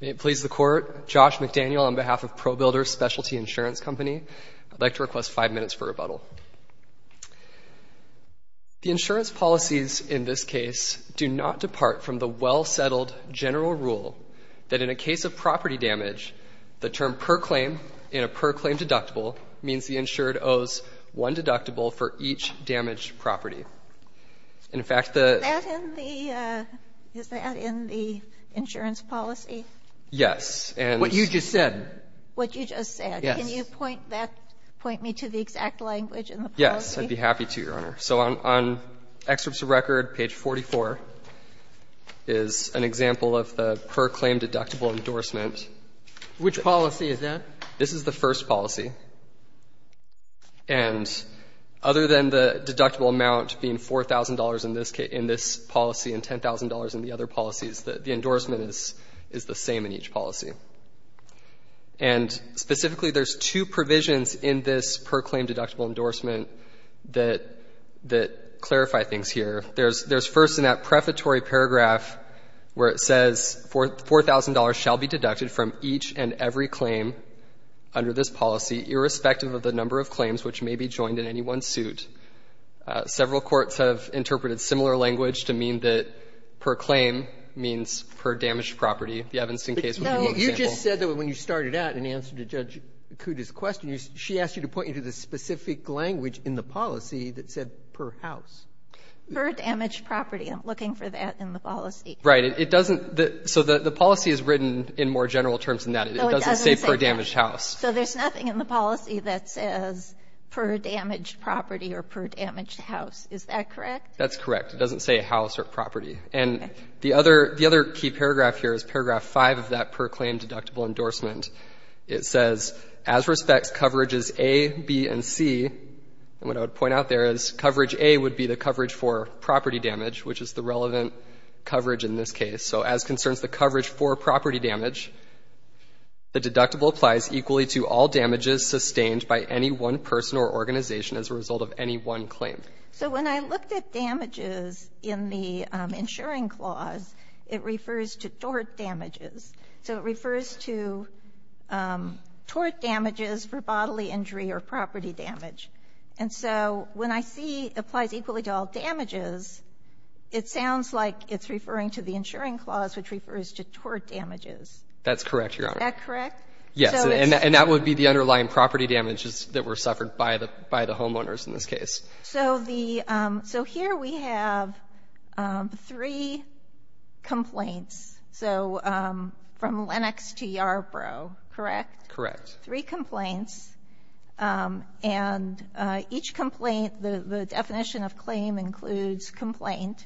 May it please the Court, Josh McDaniel on behalf of ProBuilders Specialty Insurance Company. I'd like to request five minutes for rebuttal. The insurance policies in this case do not depart from the well-settled general rule that in a case of property damage, the term per claim in a per claim deductible means the insured owes one deductible for each damaged property. And, in fact, the the Is that in the insurance policy? Yes. What you just said. What you just said. Yes. Can you point that, point me to the exact language in the policy? Yes, I'd be happy to, Your Honor. So on excerpts of record, page 44, is an example of the per claim deductible endorsement. Which policy is that? This is the first policy. And other than the deductible amount being $4,000 in this case, in this policy and $10,000 in the other policies, the endorsement is the same in each policy. And specifically, there's two provisions in this per claim deductible endorsement that clarify things here. There's first in that prefatory paragraph where it says $4,000 shall be deducted from each and every claim under this policy irrespective of the number of claims which may be joined in any one suit. Several courts have interpreted similar language to mean that per claim means per damaged property. The Evanston case was one example. But, no, you just said that when you started out in answer to Judge Kuta's question, she asked you to point me to the specific language in the policy that said per house. Per damaged property. I'm looking for that in the policy. It doesn't. So the policy is written in more general terms than that. It doesn't say per damaged house. So there's nothing in the policy that says per damaged property or per damaged house. Is that correct? That's correct. It doesn't say house or property. Okay. And the other key paragraph here is paragraph 5 of that per claim deductible endorsement. It says as respects coverages A, B, and C. And what I would point out there is coverage A would be the coverage for property damage, which is the relevant coverage in this case. So as concerns the coverage for property damage, the deductible applies equally to all damages sustained by any one person or organization as a result of any one claim. So when I looked at damages in the insuring clause, it refers to tort damages. So it refers to tort damages for bodily injury or property damage. And so when I see applies equally to all damages, it sounds like it's referring to the insuring clause, which refers to tort damages. That's correct, Your Honor. Is that correct? Yes. And that would be the underlying property damages that were suffered by the homeowners in this case. So the so here we have three complaints. So from Lenox to Yarborough, correct? Correct. Three complaints. And each complaint, the definition of claim includes complaint.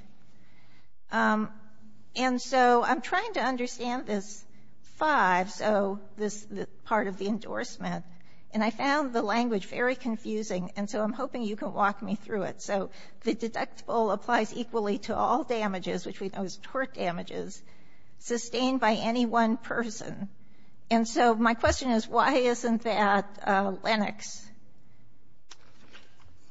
And so I'm trying to understand this five, so this part of the endorsement. And I found the language very confusing, and so I'm hoping you can walk me through it. So the deductible applies equally to all damages, which we know is tort damages, sustained by any one person. And so my question is, why isn't that Lenox?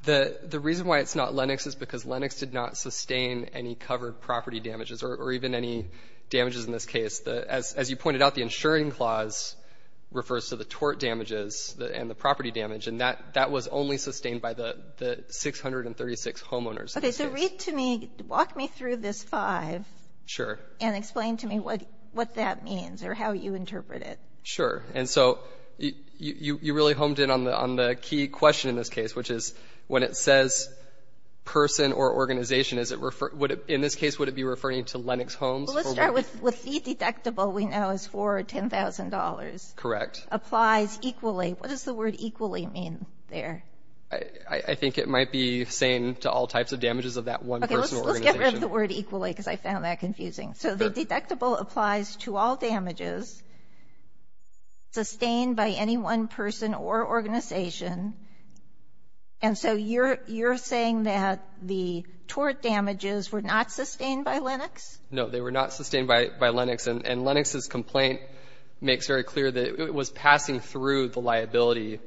The reason why it's not Lenox is because Lenox did not sustain any covered property damages or even any damages in this case. As you pointed out, the insuring clause refers to the tort damages and the property damage, and that was only sustained by the 636 homeowners in this case. Okay. So read to me, walk me through this five. Sure. And explain to me what that means or how you interpret it. Sure. And so you really honed in on the key question in this case, which is when it says person or organization, in this case, would it be referring to Lenox homes? Let's start with the deductible we know is for $10,000. Correct. Applies equally. What does the word equally mean there? I think it might be saying to all types of damages of that one person or organization. I can't remember the word equally because I found that confusing. So the deductible applies to all damages sustained by any one person or organization. And so you're saying that the tort damages were not sustained by Lenox? No. They were not sustained by Lenox. And Lenox's complaint makes very clear that it was passing through the liability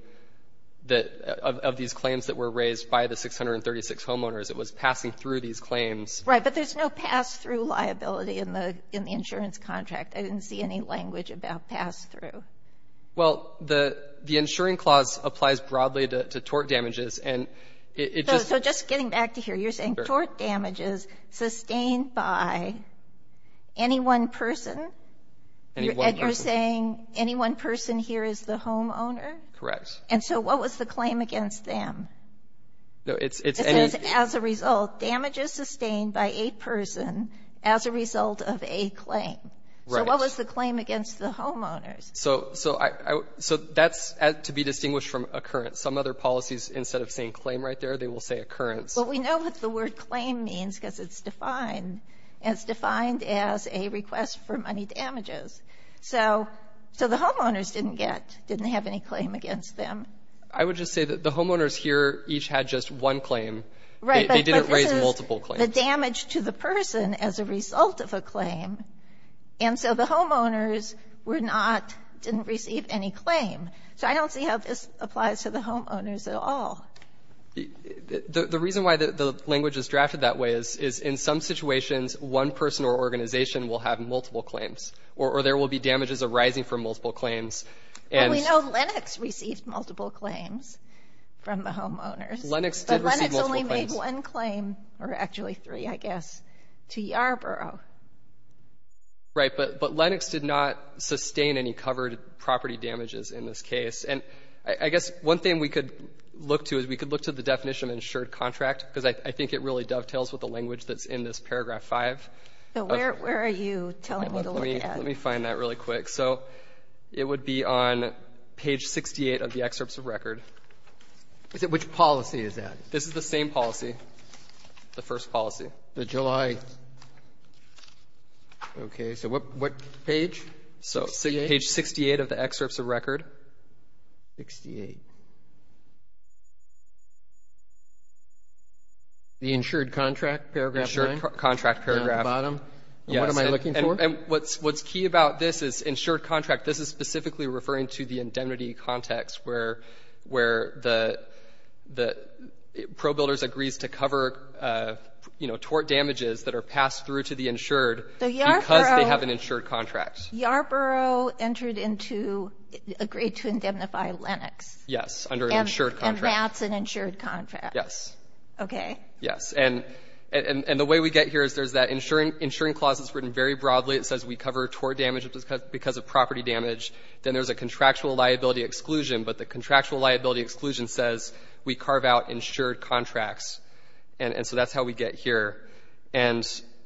that of these claims that were raised by the 636 homeowners. It was passing through these claims. Right. But there's no pass-through liability in the insurance contract. I didn't see any language about pass-through. Well, the insuring clause applies broadly to tort damages, and it just — So just getting back to here, you're saying tort damages sustained by any one person? Any one person. And you're saying any one person here is the homeowner? Correct. And so what was the claim against them? No. It's any — It says, as a result, damages sustained by a person as a result of a claim. Right. So what was the claim against the homeowners? So that's to be distinguished from occurrence. Some other policies, instead of saying claim right there, they will say occurrence. But we know what the word claim means because it's defined. It's defined as a request for money damages. So the homeowners didn't get — didn't have any claim against them. I would just say that the homeowners here each had just one claim. Right. They didn't raise multiple claims. But this is the damage to the person as a result of a claim. And so the homeowners were not — didn't receive any claim. So I don't see how this applies to the homeowners at all. The reason why the language is drafted that way is in some situations, one person or organization will have multiple claims, or there will be damages arising from multiple claims. Well, we know Lennox received multiple claims from the homeowners. Lennox did receive multiple claims. But Lennox only made one claim, or actually three, I guess, to Yarborough. Right. But Lennox did not sustain any covered property damages in this case. And I guess one thing we could look to is we could look to the definition of insured contract because I think it really dovetails with the language that's in this paragraph 5. So where are you telling me to look at? Let me find that really quick. So it would be on page 68 of the excerpts of record. Which policy is that? This is the same policy, the first policy. The July — okay. So what page? 68? So page 68 of the excerpts of record. 68. The insured contract paragraph 9? Insured contract paragraph. Down at the bottom? And what am I looking for? And what's key about this is insured contract. This is specifically referring to the indemnity context where the pro-builders agrees to cover, you know, tort damages that are passed through to the insured because they have an insured contract. So Yarborough entered into — agreed to indemnify Lennox. Yes, under an insured contract. And that's an insured contract. Yes. Okay. Yes. And the way we get here is there's that insuring clause that's written very broadly. It says we cover tort damage because of property damage. Then there's a contractual liability exclusion. But the contractual liability exclusion says we carve out insured contracts. And so that's how we get here. And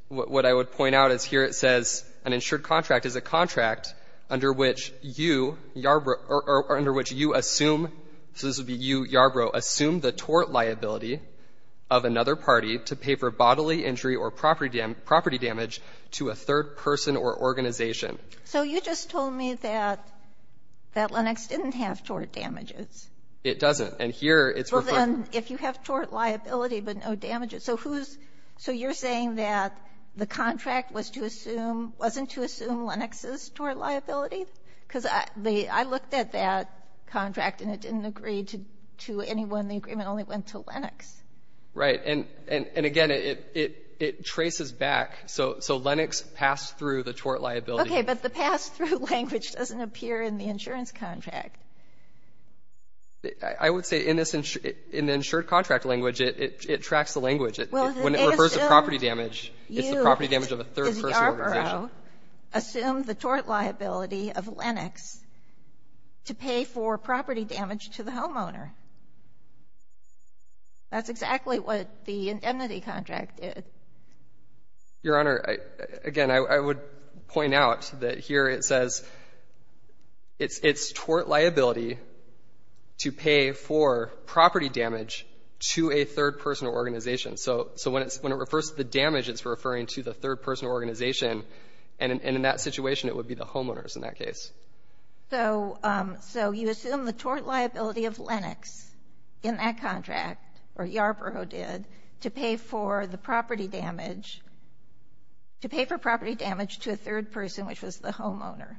what I would point out is here it says an insured contract is a contract under which you, Yarborough — or under which you assume — so this would be you, Yarborough, assume the tort liability of another party to pay for bodily injury or property damage to a third person or organization. So you just told me that Lennox didn't have tort damages. It doesn't. And here it's — Well, then, if you have tort liability but no damages, so who's — so you're saying that the contract was to assume — wasn't to assume Lennox's tort liability? Because I looked at that contract and it didn't agree to anyone. The agreement only went to Lennox. Right. And again, it traces back. So Lennox passed through the tort liability. Okay. But the pass-through language doesn't appear in the insurance contract. I would say in this — in the insured contract language, it tracks the language. When it refers to property damage, it's the property damage of a third person or organization. So you, Yarborough, assume the tort liability of Lennox to pay for property damage to the homeowner. That's exactly what the indemnity contract did. Your Honor, again, I would point out that here it says it's tort liability to pay for property damage to a third person or organization. So when it refers to the damage, it's referring to the third person or organization. And in that situation, it would be the homeowners in that case. So you assume the tort liability of Lennox in that contract, or Yarborough did, to pay for the property damage — to pay for property damage to a third person, which was the homeowner.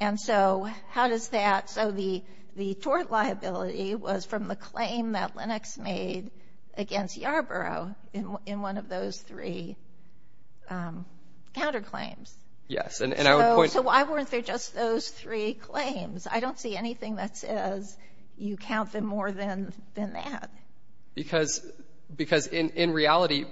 And so how does that — so the tort liability was from the claim that Lennox made against Yarborough in one of those three counterclaims. Yes, and I would point — So why weren't there just those three claims? I don't see anything that says you count them more than that. Because in reality,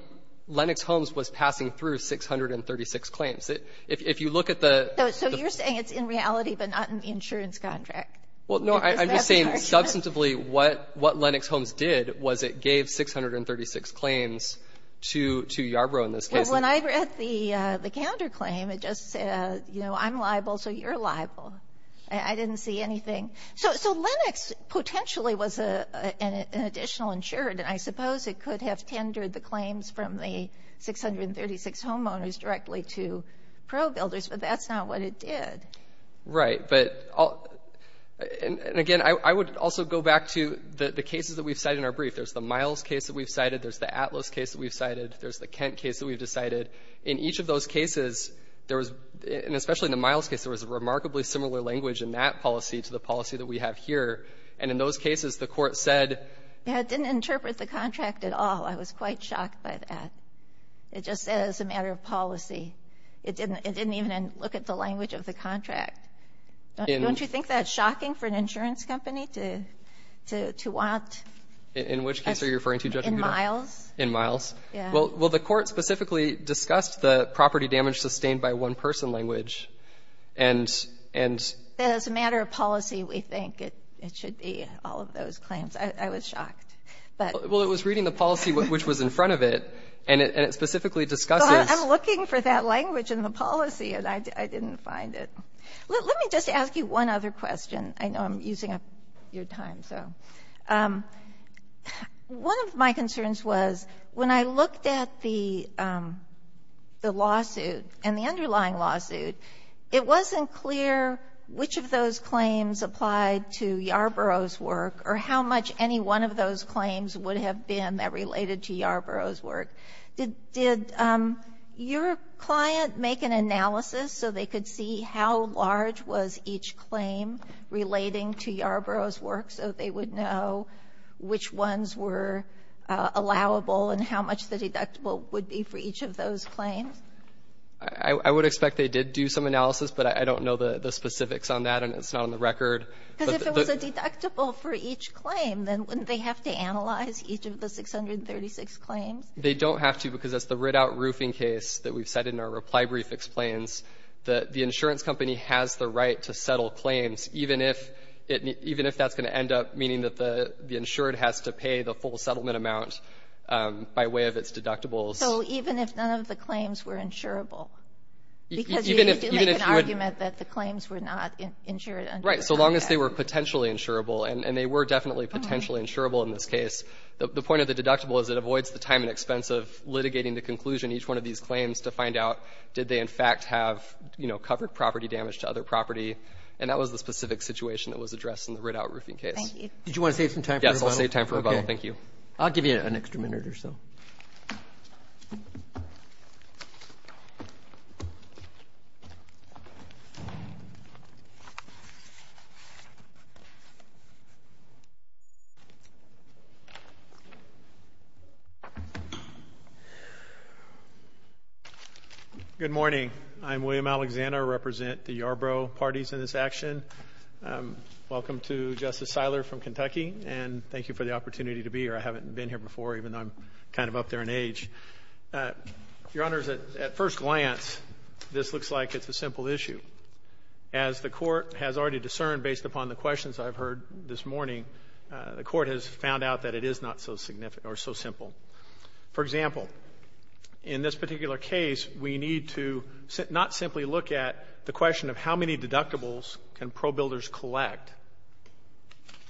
Lennox Homes was passing through 636 claims. If you look at the — So you're saying it's in reality but not in the insurance contract? Well, no, I'm just saying substantively what Lennox Homes did was it gave 636 claims to Yarborough in this case. When I read the counterclaim, it just said, you know, I'm liable, so you're liable. I didn't see anything. So Lennox potentially was an additional insured, and I suppose it could have tendered the claims from the 636 homeowners directly to ProBuilders, but that's not what it did. Right. But — and again, I would also go back to the cases that we've cited in our brief. There's the Miles case that we've cited. There's the Atlas case that we've cited. There's the Kent case that we've decided. In each of those cases, there was — and especially in the Miles case, there was a remarkably similar language in that policy to the policy that we have here, and in those cases, the Court said — It didn't interpret the contract at all. I was quite shocked by that. It just said it was a matter of policy. It didn't even look at the language of the contract. Don't you think that's shocking for an insurance company to want — In which case are you referring to, Judge Budol? In Miles. In Miles. Yeah. Well, the Court specifically discussed the property damage sustained by one-person language, and — That it's a matter of policy, we think. It should be all of those claims. I was shocked. But — Well, it was reading the policy which was in front of it, and it specifically discusses — I'm looking for that language in the policy, and I didn't find it. Let me just ask you one other question. I know I'm using up your time, so. One of my concerns was, when I looked at the lawsuit and the underlying lawsuit, it wasn't clear which of those claims applied to Yarborough's work or how much any one of those claims would have been that related to Yarborough's work. Did your client make an analysis so they could see how large was each claim relating to Yarborough's work so they would know which ones were allowable and how much the deductible would be for each of those claims? I would expect they did do some analysis, but I don't know the specifics on that, and it's not on the record. Because if it was a deductible for each claim, then wouldn't they have to analyze each of the 636 claims? They don't have to because it's the writ-out roofing case that we've cited in our reply brief explains that the insurance company has the right to settle claims even if it — even if that's going to end up meaning that the insured has to pay the full settlement amount by way of its deductibles. So even if none of the claims were insurable? Right. So long as they were potentially insurable, and they were definitely potentially insurable in this case, the point of the deductible is it avoids the time and expense of litigating the conclusion in each one of these claims to find out did they in fact have, you know, covered property damage to other property. And that was the specific situation that was addressed in the writ-out roofing case. Thank you. Did you want to save some time for rebuttal? Yes, I'll save time for rebuttal. Okay. Thank you. I'll give you an extra minute or so. Thank you. Good morning. I'm William Alexander. I represent the Yarborough parties in this action. Welcome to Justice Siler from Kentucky, and thank you for the opportunity to be here. I haven't been here before, even though I'm kind of up there in age. Your Honors, at first glance, this looks like it's a simple issue. As the Court has already discerned based upon the questions I've heard this morning, the Court has found out that it is not so significant or so simple. For example, in this particular case, we need to not simply look at the question of how many deductibles can probuilders collect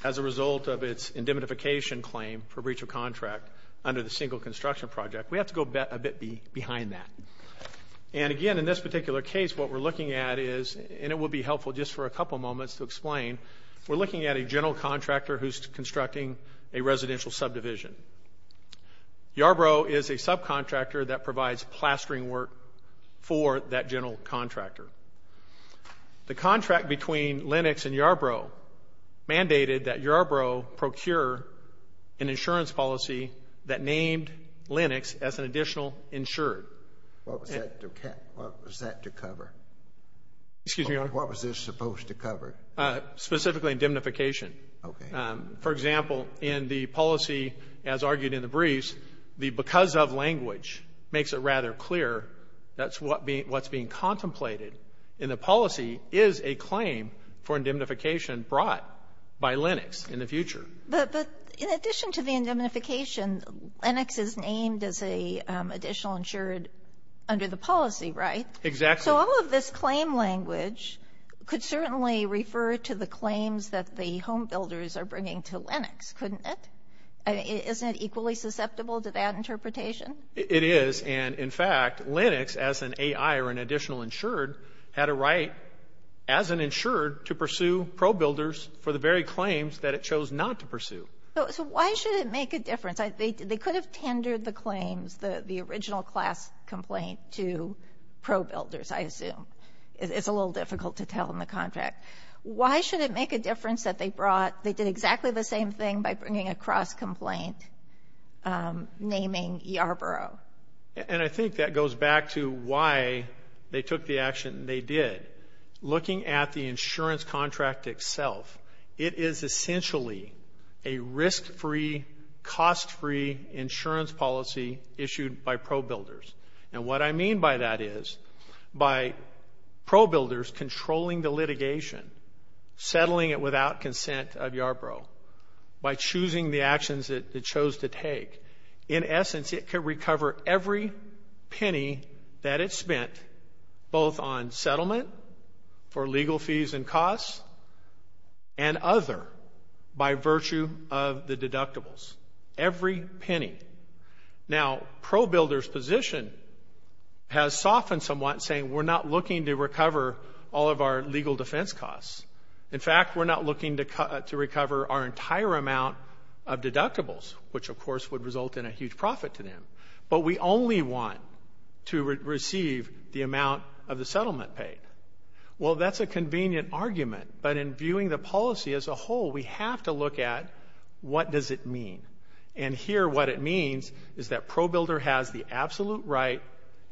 as a result of its indemnification claim for breach of contract under the single construction project. We have to go a bit behind that. And again, in this particular case, what we're looking at is, and it will be helpful just for a couple moments to explain, we're looking at a general contractor who's constructing a residential subdivision. Yarborough is a subcontractor that provides plastering work for that general contractor. The contract between Lenox and Yarborough mandated that Yarborough procure an insurance policy that named Lenox as an additional insurer. What was that to cover? Excuse me, Your Honor. What was this supposed to cover? Specifically indemnification. Okay. For example, in the policy, as argued in the briefs, the because of language makes it rather clear that's what's being contemplated in the policy is a claim for indemnification brought by Lenox in the future. But in addition to the indemnification, Lenox is named as an additional insured under the policy, right? Exactly. So all of this claim language could certainly refer to the claims that the homebuilders are bringing to Lenox, couldn't it? Isn't it equally susceptible to that interpretation? It is. And, in fact, Lenox, as an AI or an additional insured, had a right as an insured to pursue pro-builders for the very claims that it chose not to pursue. So why should it make a difference? They could have tendered the claims, the original class complaint, to pro-builders, I assume. It's a little difficult to tell in the contract. Why should it make a difference that they brought they did exactly the same thing by bringing a cross-complaint naming Yarborough? And I think that goes back to why they took the action they did. Looking at the insurance contract itself, it is essentially a risk-free, cost-free insurance policy issued by pro-builders. And what I mean by that is by pro-builders controlling the litigation, settling it without consent of Yarborough, by choosing the actions it chose to take, in essence, it could recover every penny that it spent both on settlement for legal fees and costs and other by virtue of the deductibles. Every penny. Now, pro-builders' position has softened somewhat, saying we're not looking to recover all of our legal defense costs. In fact, we're not looking to recover our entire amount of deductibles, which, of course, would result in a huge profit to them. But we only want to receive the amount of the settlement paid. Well, that's a convenient argument. But in viewing the policy as a whole, we have to look at what does it mean. And here, what it means is that pro-builder has the absolute right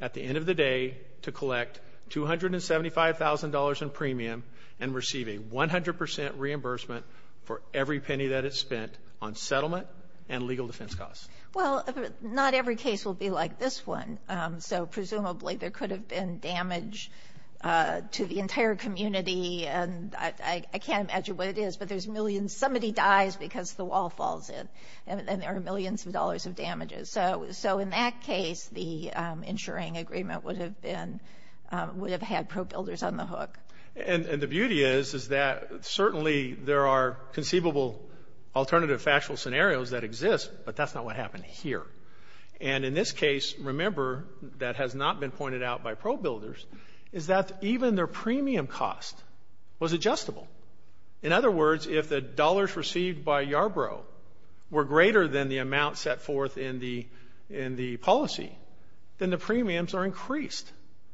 at the end of the day to collect $275,000 in premium and receive a 100 percent reimbursement for every penny that it spent on settlement and legal defense costs. Well, not every case will be like this one. So presumably, there could have been damage to the entire community. And I can't imagine what it is, but there's millions. Somebody dies because the wall falls in, and there are millions of dollars of damages. So in that case, the insuring agreement would have been – would have had pro-builders on the hook. And the beauty is, is that certainly there are conceivable alternative factual scenarios that exist, but that's not what happened here. And in this case, remember, that has not been pointed out by pro-builders, is that even their premium cost was adjustable. In other words, if the dollars received by Yarbrough were greater than the amount set forth in the policy, then the premiums are increased,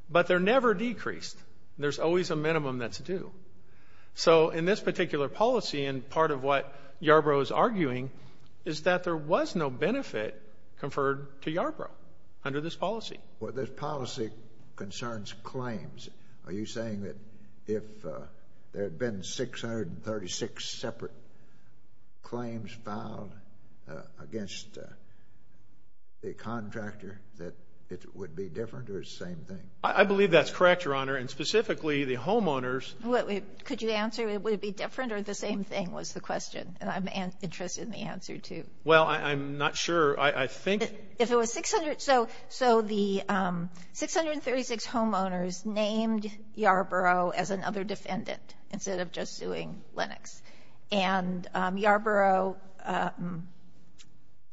but they're never decreased. There's always a minimum that's due. So in this particular policy, and part of what Yarbrough is arguing, is that there was no benefit conferred to Yarbrough under this policy. Well, this policy concerns claims. Are you saying that if there had been 636 separate claims filed against the contractor, that it would be different or the same thing? I believe that's correct, Your Honor. And specifically, the homeowners – Could you answer, would it be different or the same thing was the question? And I'm interested in the answer, too. Well, I'm not sure. I think – So the 636 homeowners named Yarbrough as another defendant instead of just suing Lenox. And Yarbrough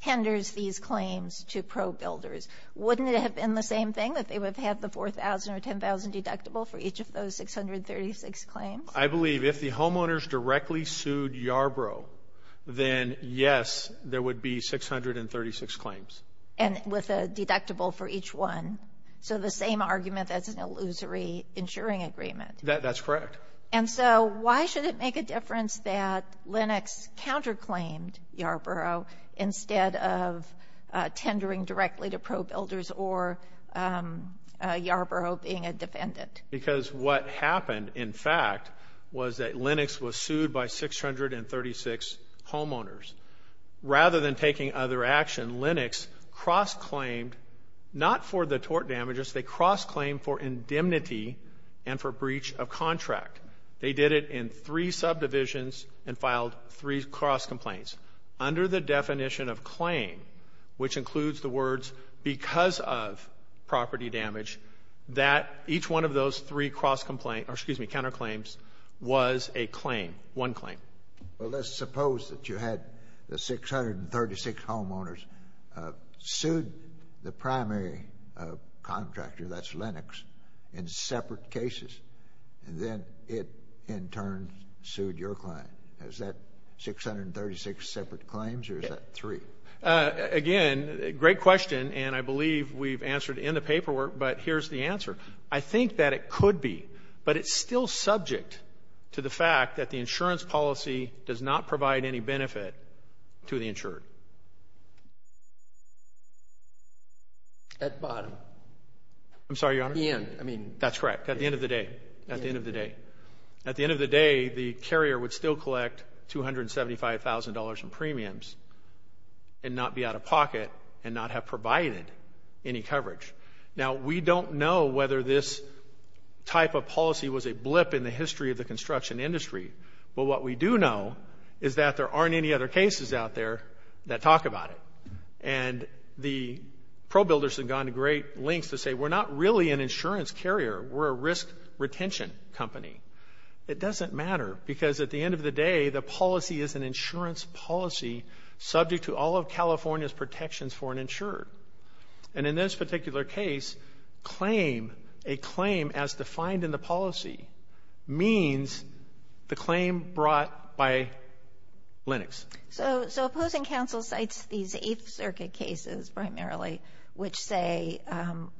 henders these claims to pro-builders. Wouldn't it have been the same thing, that they would have had the 4,000 or 10,000 deductible for each of those 636 claims? I believe if the homeowners directly sued Yarbrough, then, yes, there would be 636 claims. And with a deductible for each one, so the same argument as an illusory insuring agreement. That's correct. And so why should it make a difference that Lenox counterclaimed Yarbrough instead of tendering directly to pro-builders or Yarbrough being a defendant? Because what happened, in fact, was that Lenox was sued by 636 homeowners. Rather than taking other action, Lenox cross-claimed not for the tort damages, they cross-claimed for indemnity and for breach of contract. They did it in three subdivisions and filed three cross-complaints. Under the definition of claim, which includes the words because of property damage, that each one of those three cross-complaint – or, excuse me, counterclaims was a claim, one claim. Well, let's suppose that you had the 636 homeowners sued the primary contractor, that's Lenox, in separate cases, and then it, in turn, sued your client. Is that 636 separate claims or is that three? Again, great question, and I believe we've answered it in the paperwork, but here's the answer. I think that it could be, but it's still subject to the fact that the insurance policy does not provide any benefit to the insured. At the bottom. I'm sorry, Your Honor. At the end. That's correct. At the end of the day. At the end of the day. At the end of the day, the carrier would still collect $275,000 in premiums and not be out of pocket and not have provided any coverage. Now, we don't know whether this type of policy was a blip in the history of the construction industry, but what we do know is that there aren't any other cases out there that talk about it, and the pro-builders have gone to great lengths to say, we're not really an insurance carrier, we're a risk retention company. It doesn't matter because, at the end of the day, the policy is an insurance policy subject to all of California's protections for an insured. And in this particular case, claim, a claim as defined in the policy, means the claim brought by Lenox. So Opposing Counsel cites these Eighth Circuit cases primarily, which say,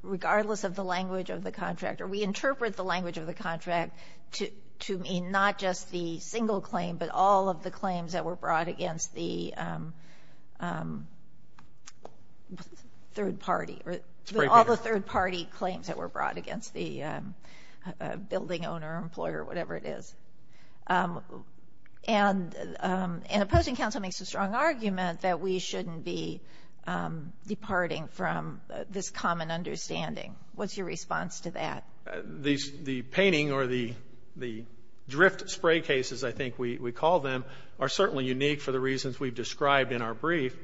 regardless of the language of the contractor, we interpret the language of the contract to mean not just the single claim but all of the claims that were brought against the third party. All the third party claims that were brought against the building owner, employer, whatever it is. And Opposing Counsel makes a strong argument that we shouldn't be departing from this common understanding. What's your response to that? The painting or the drift spray cases, I think we call them, are certainly unique for the reasons we've described in our brief.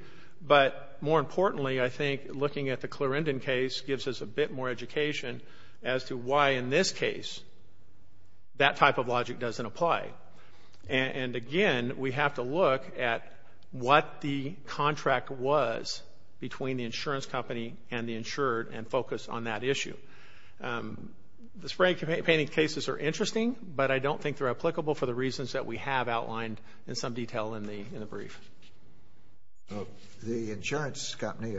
But more importantly, I think looking at the Clarendon case gives us a bit more education as to why in this case that type of logic doesn't apply. And again, we have to look at what the contract was between the insurance company and the insured and focus on that issue. The spray painting cases are interesting, but I don't think they're applicable for the reasons that we have outlined in some detail in the brief. The insurance company,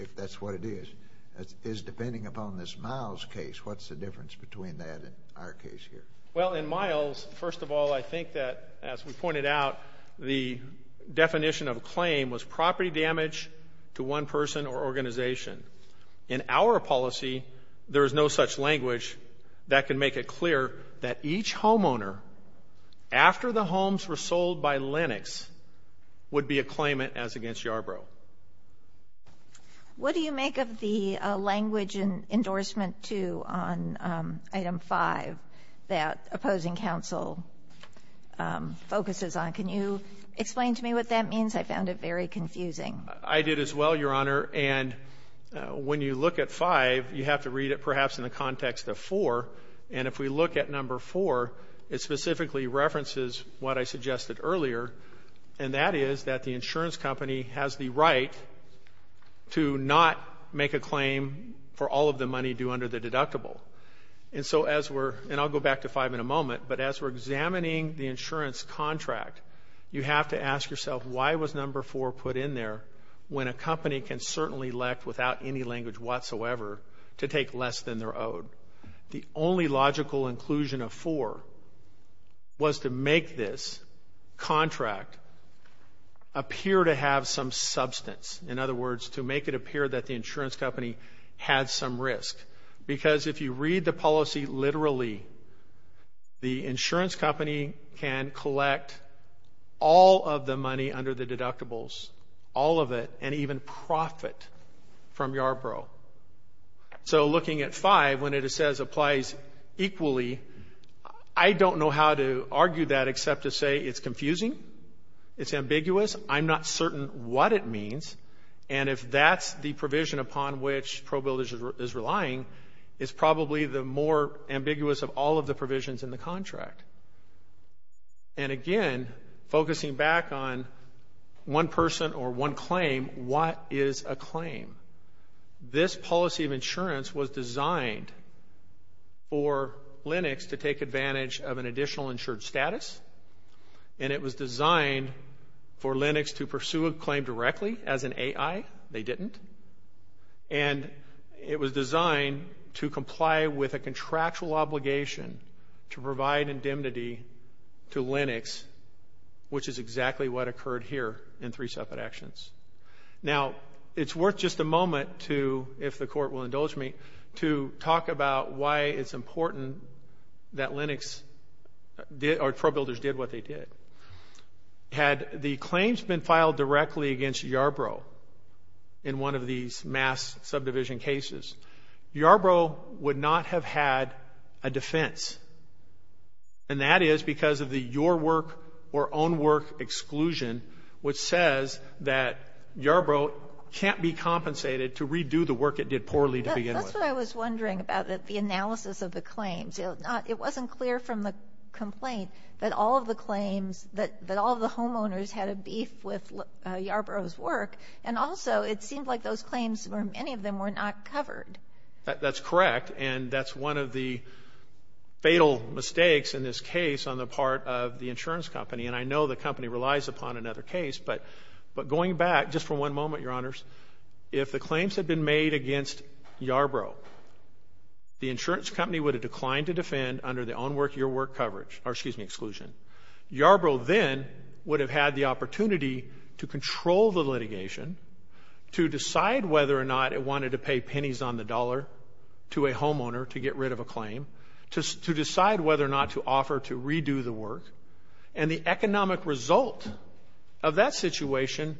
if that's what it is, is depending upon this Miles case. What's the difference between that and our case here? Well, in Miles, first of all, I think that, as we pointed out, the definition of a claim was property damage to one person or organization. In our policy, there is no such language that can make it clear that each homeowner after the homes were sold by Lenox would be a claimant as against Yarbrough. What do you make of the language in endorsement 2 on Item 5 that opposing counsel focuses on? Can you explain to me what that means? I found it very confusing. I did as well, Your Honor. And when you look at 5, you have to read it perhaps in the context of 4. And if we look at number 4, it specifically references what I suggested earlier, and that is that the insurance company has the right to not make a claim for all of the money due under the deductible. And so as we're – and I'll go back to 5 in a moment, but as we're examining the insurance contract, you have to ask yourself, why was number 4 put in there when a company can certainly elect, without any language whatsoever, to take less than they're owed? The only logical inclusion of 4 was to make this contract appear to have some substance. In other words, to make it appear that the insurance company had some risk. Because if you read the policy literally, the insurance company can collect all of the money under the deductibles, all of it, and even profit from Yarbrough. So looking at 5, when it says applies equally, I don't know how to argue that except to say it's confusing, it's ambiguous, I'm not certain what it means, and if that's the provision upon which ProBuilders is relying, it's probably the more ambiguous of all of the provisions in the contract. And again, focusing back on one person or one claim, what is a claim? This policy of insurance was designed for Lenox to take advantage of an additional insured status, and it was designed for Lenox to pursue a claim directly as an AI. They didn't. And it was designed to comply with a contractual obligation to provide indemnity to Lenox, which is exactly what occurred here in three separate actions. Now, it's worth just a moment to, if the court will indulge me, to talk about why it's important that ProBuilders did what they did. Had the claims been filed directly against Yarbrough in one of these mass subdivision cases, Yarbrough would not have had a defense. And that is because of the your work or own work exclusion, which says that Yarbrough can't be compensated to redo the work it did poorly to begin with. That's what I was wondering about, the analysis of the claims. It wasn't clear from the complaint that all of the claims, that all of the homeowners had a beef with Yarbrough's work. And also, it seemed like those claims or many of them were not covered. That's correct. And that's one of the fatal mistakes in this case on the part of the insurance company. And I know the company relies upon another case. But going back, just for one moment, Your Honors, if the claims had been made against Yarbrough, the insurance company would have declined to defend under the own work, your work coverage, or excuse me, exclusion. Yarbrough then would have had the opportunity to control the litigation, to decide whether or not it wanted to pay pennies on the dollar to a homeowner to get rid of a claim, to decide whether or not to offer to redo the work. And the economic result of that situation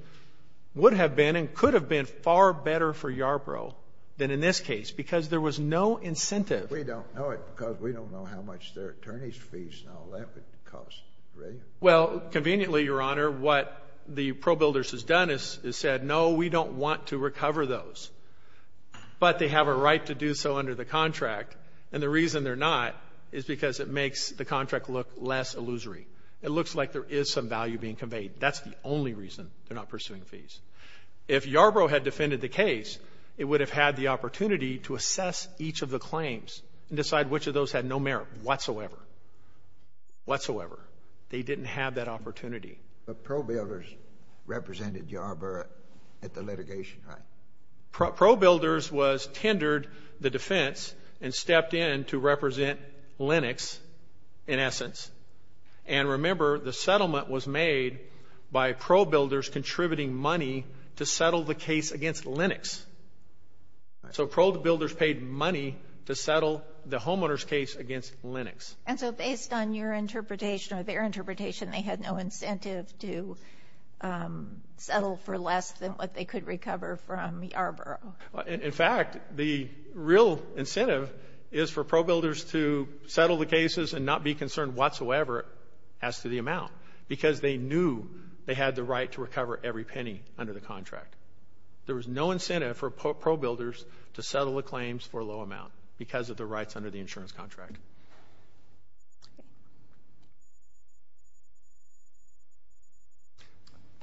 would have been could have been far better for Yarbrough than in this case because there was no incentive. We don't know it because we don't know how much their attorneys' fees and all that would cost, right? Well, conveniently, Your Honor, what the ProBuilders has done is said, no, we don't want to recover those. But they have a right to do so under the contract. And the reason they're not is because it makes the contract look less illusory. It looks like there is some value being conveyed. That's the only reason they're not pursuing fees. If Yarbrough had defended the case, it would have had the opportunity to assess each of the claims and decide which of those had no merit whatsoever, whatsoever. They didn't have that opportunity. But ProBuilders represented Yarbrough at the litigation, right? ProBuilders was tendered the defense and stepped in to represent Lenox in essence. And remember, the settlement was made by ProBuilders contributing money to settle the case against Lenox. So ProBuilders paid money to settle the homeowner's case against Lenox. And so based on your interpretation or their interpretation, they had no incentive to settle for less than what they could recover from Yarbrough. In fact, the real incentive is for ProBuilders to settle the cases and not be concerned whatsoever as to the amount, because they knew they had the right to recover every penny under the contract. There was no incentive for ProBuilders to settle the claims for a low amount because of the rights under the insurance contract.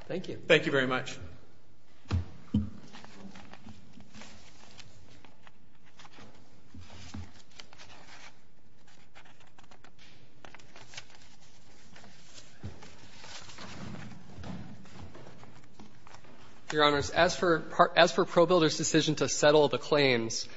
Thank you. Thank you very much. Your Honors, as for ProBuilders' decision to settle the claims,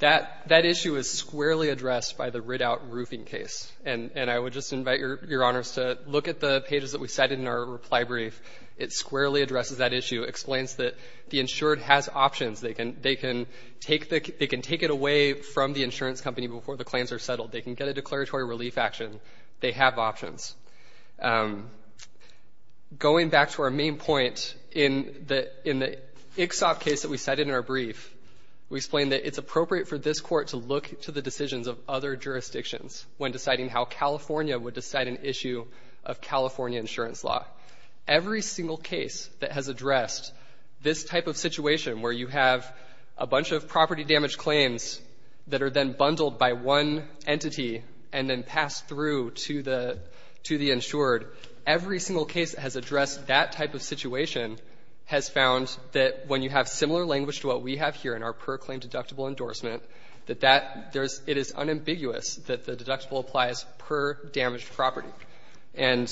that issue is squarely addressed by the writ-out roofing case. And I would just invite Your Honors to look at the pages that we cited in our reply to the brief. It squarely addresses that issue, explains that the insured has options. They can take it away from the insurance company before the claims are settled. They can get a declaratory relief action. They have options. Going back to our main point, in the Ixop case that we cited in our brief, we explained that it's appropriate for this Court to look to the decisions of other jurisdictions when deciding how California would decide an issue of California insurance law. Every single case that has addressed this type of situation where you have a bunch of property damage claims that are then bundled by one entity and then passed through to the insured, every single case that has addressed that type of situation has found that when you have similar language to what we have here in our per-claim language, it's ambiguous that the deductible applies per damaged property. And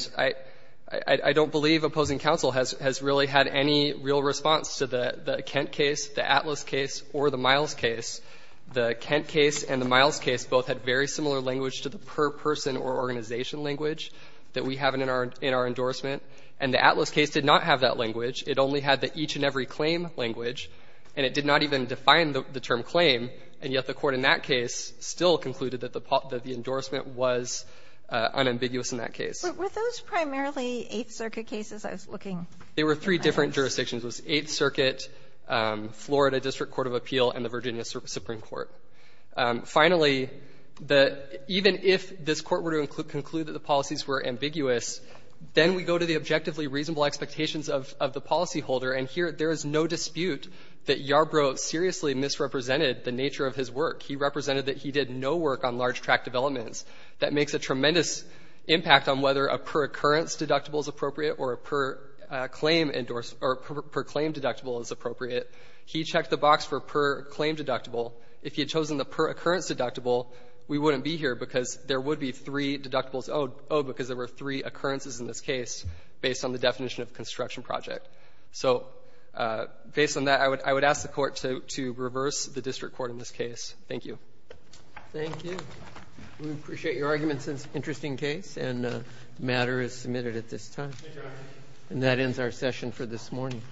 I don't believe opposing counsel has really had any real response to the Kent case, the Atlas case, or the Miles case. The Kent case and the Miles case both had very similar language to the per-person or organization language that we have in our endorsement. And the Atlas case did not have that language. It only had the each-and-every-claim language, and it did not even define the term per-claim. And yet the Court in that case still concluded that the endorsement was unambiguous in that case. Sotomayor, were those primarily Eighth Circuit cases I was looking at? They were three different jurisdictions. It was Eighth Circuit, Florida District Court of Appeal, and the Virginia Supreme Court. Finally, even if this Court were to conclude that the policies were ambiguous, then we go to the objectively reasonable expectations of the policyholder. And here, there is no dispute that Yarbrough seriously misrepresented the nature of his work. He represented that he did no work on large-track developments. That makes a tremendous impact on whether a per-occurrence deductible is appropriate or a per-claim endorsement or per-claim deductible is appropriate. He checked the box for per-claim deductible. If he had chosen the per-occurrence deductible, we wouldn't be here because there would be three deductibles owed because there were three occurrences in this case based on the definition of construction project. So based on that, I would ask the Court to reverse the district court in this case. Thank you. Roberts. Thank you. We appreciate your arguments. It's an interesting case, and the matter is submitted at this time. And that ends our session for this morning.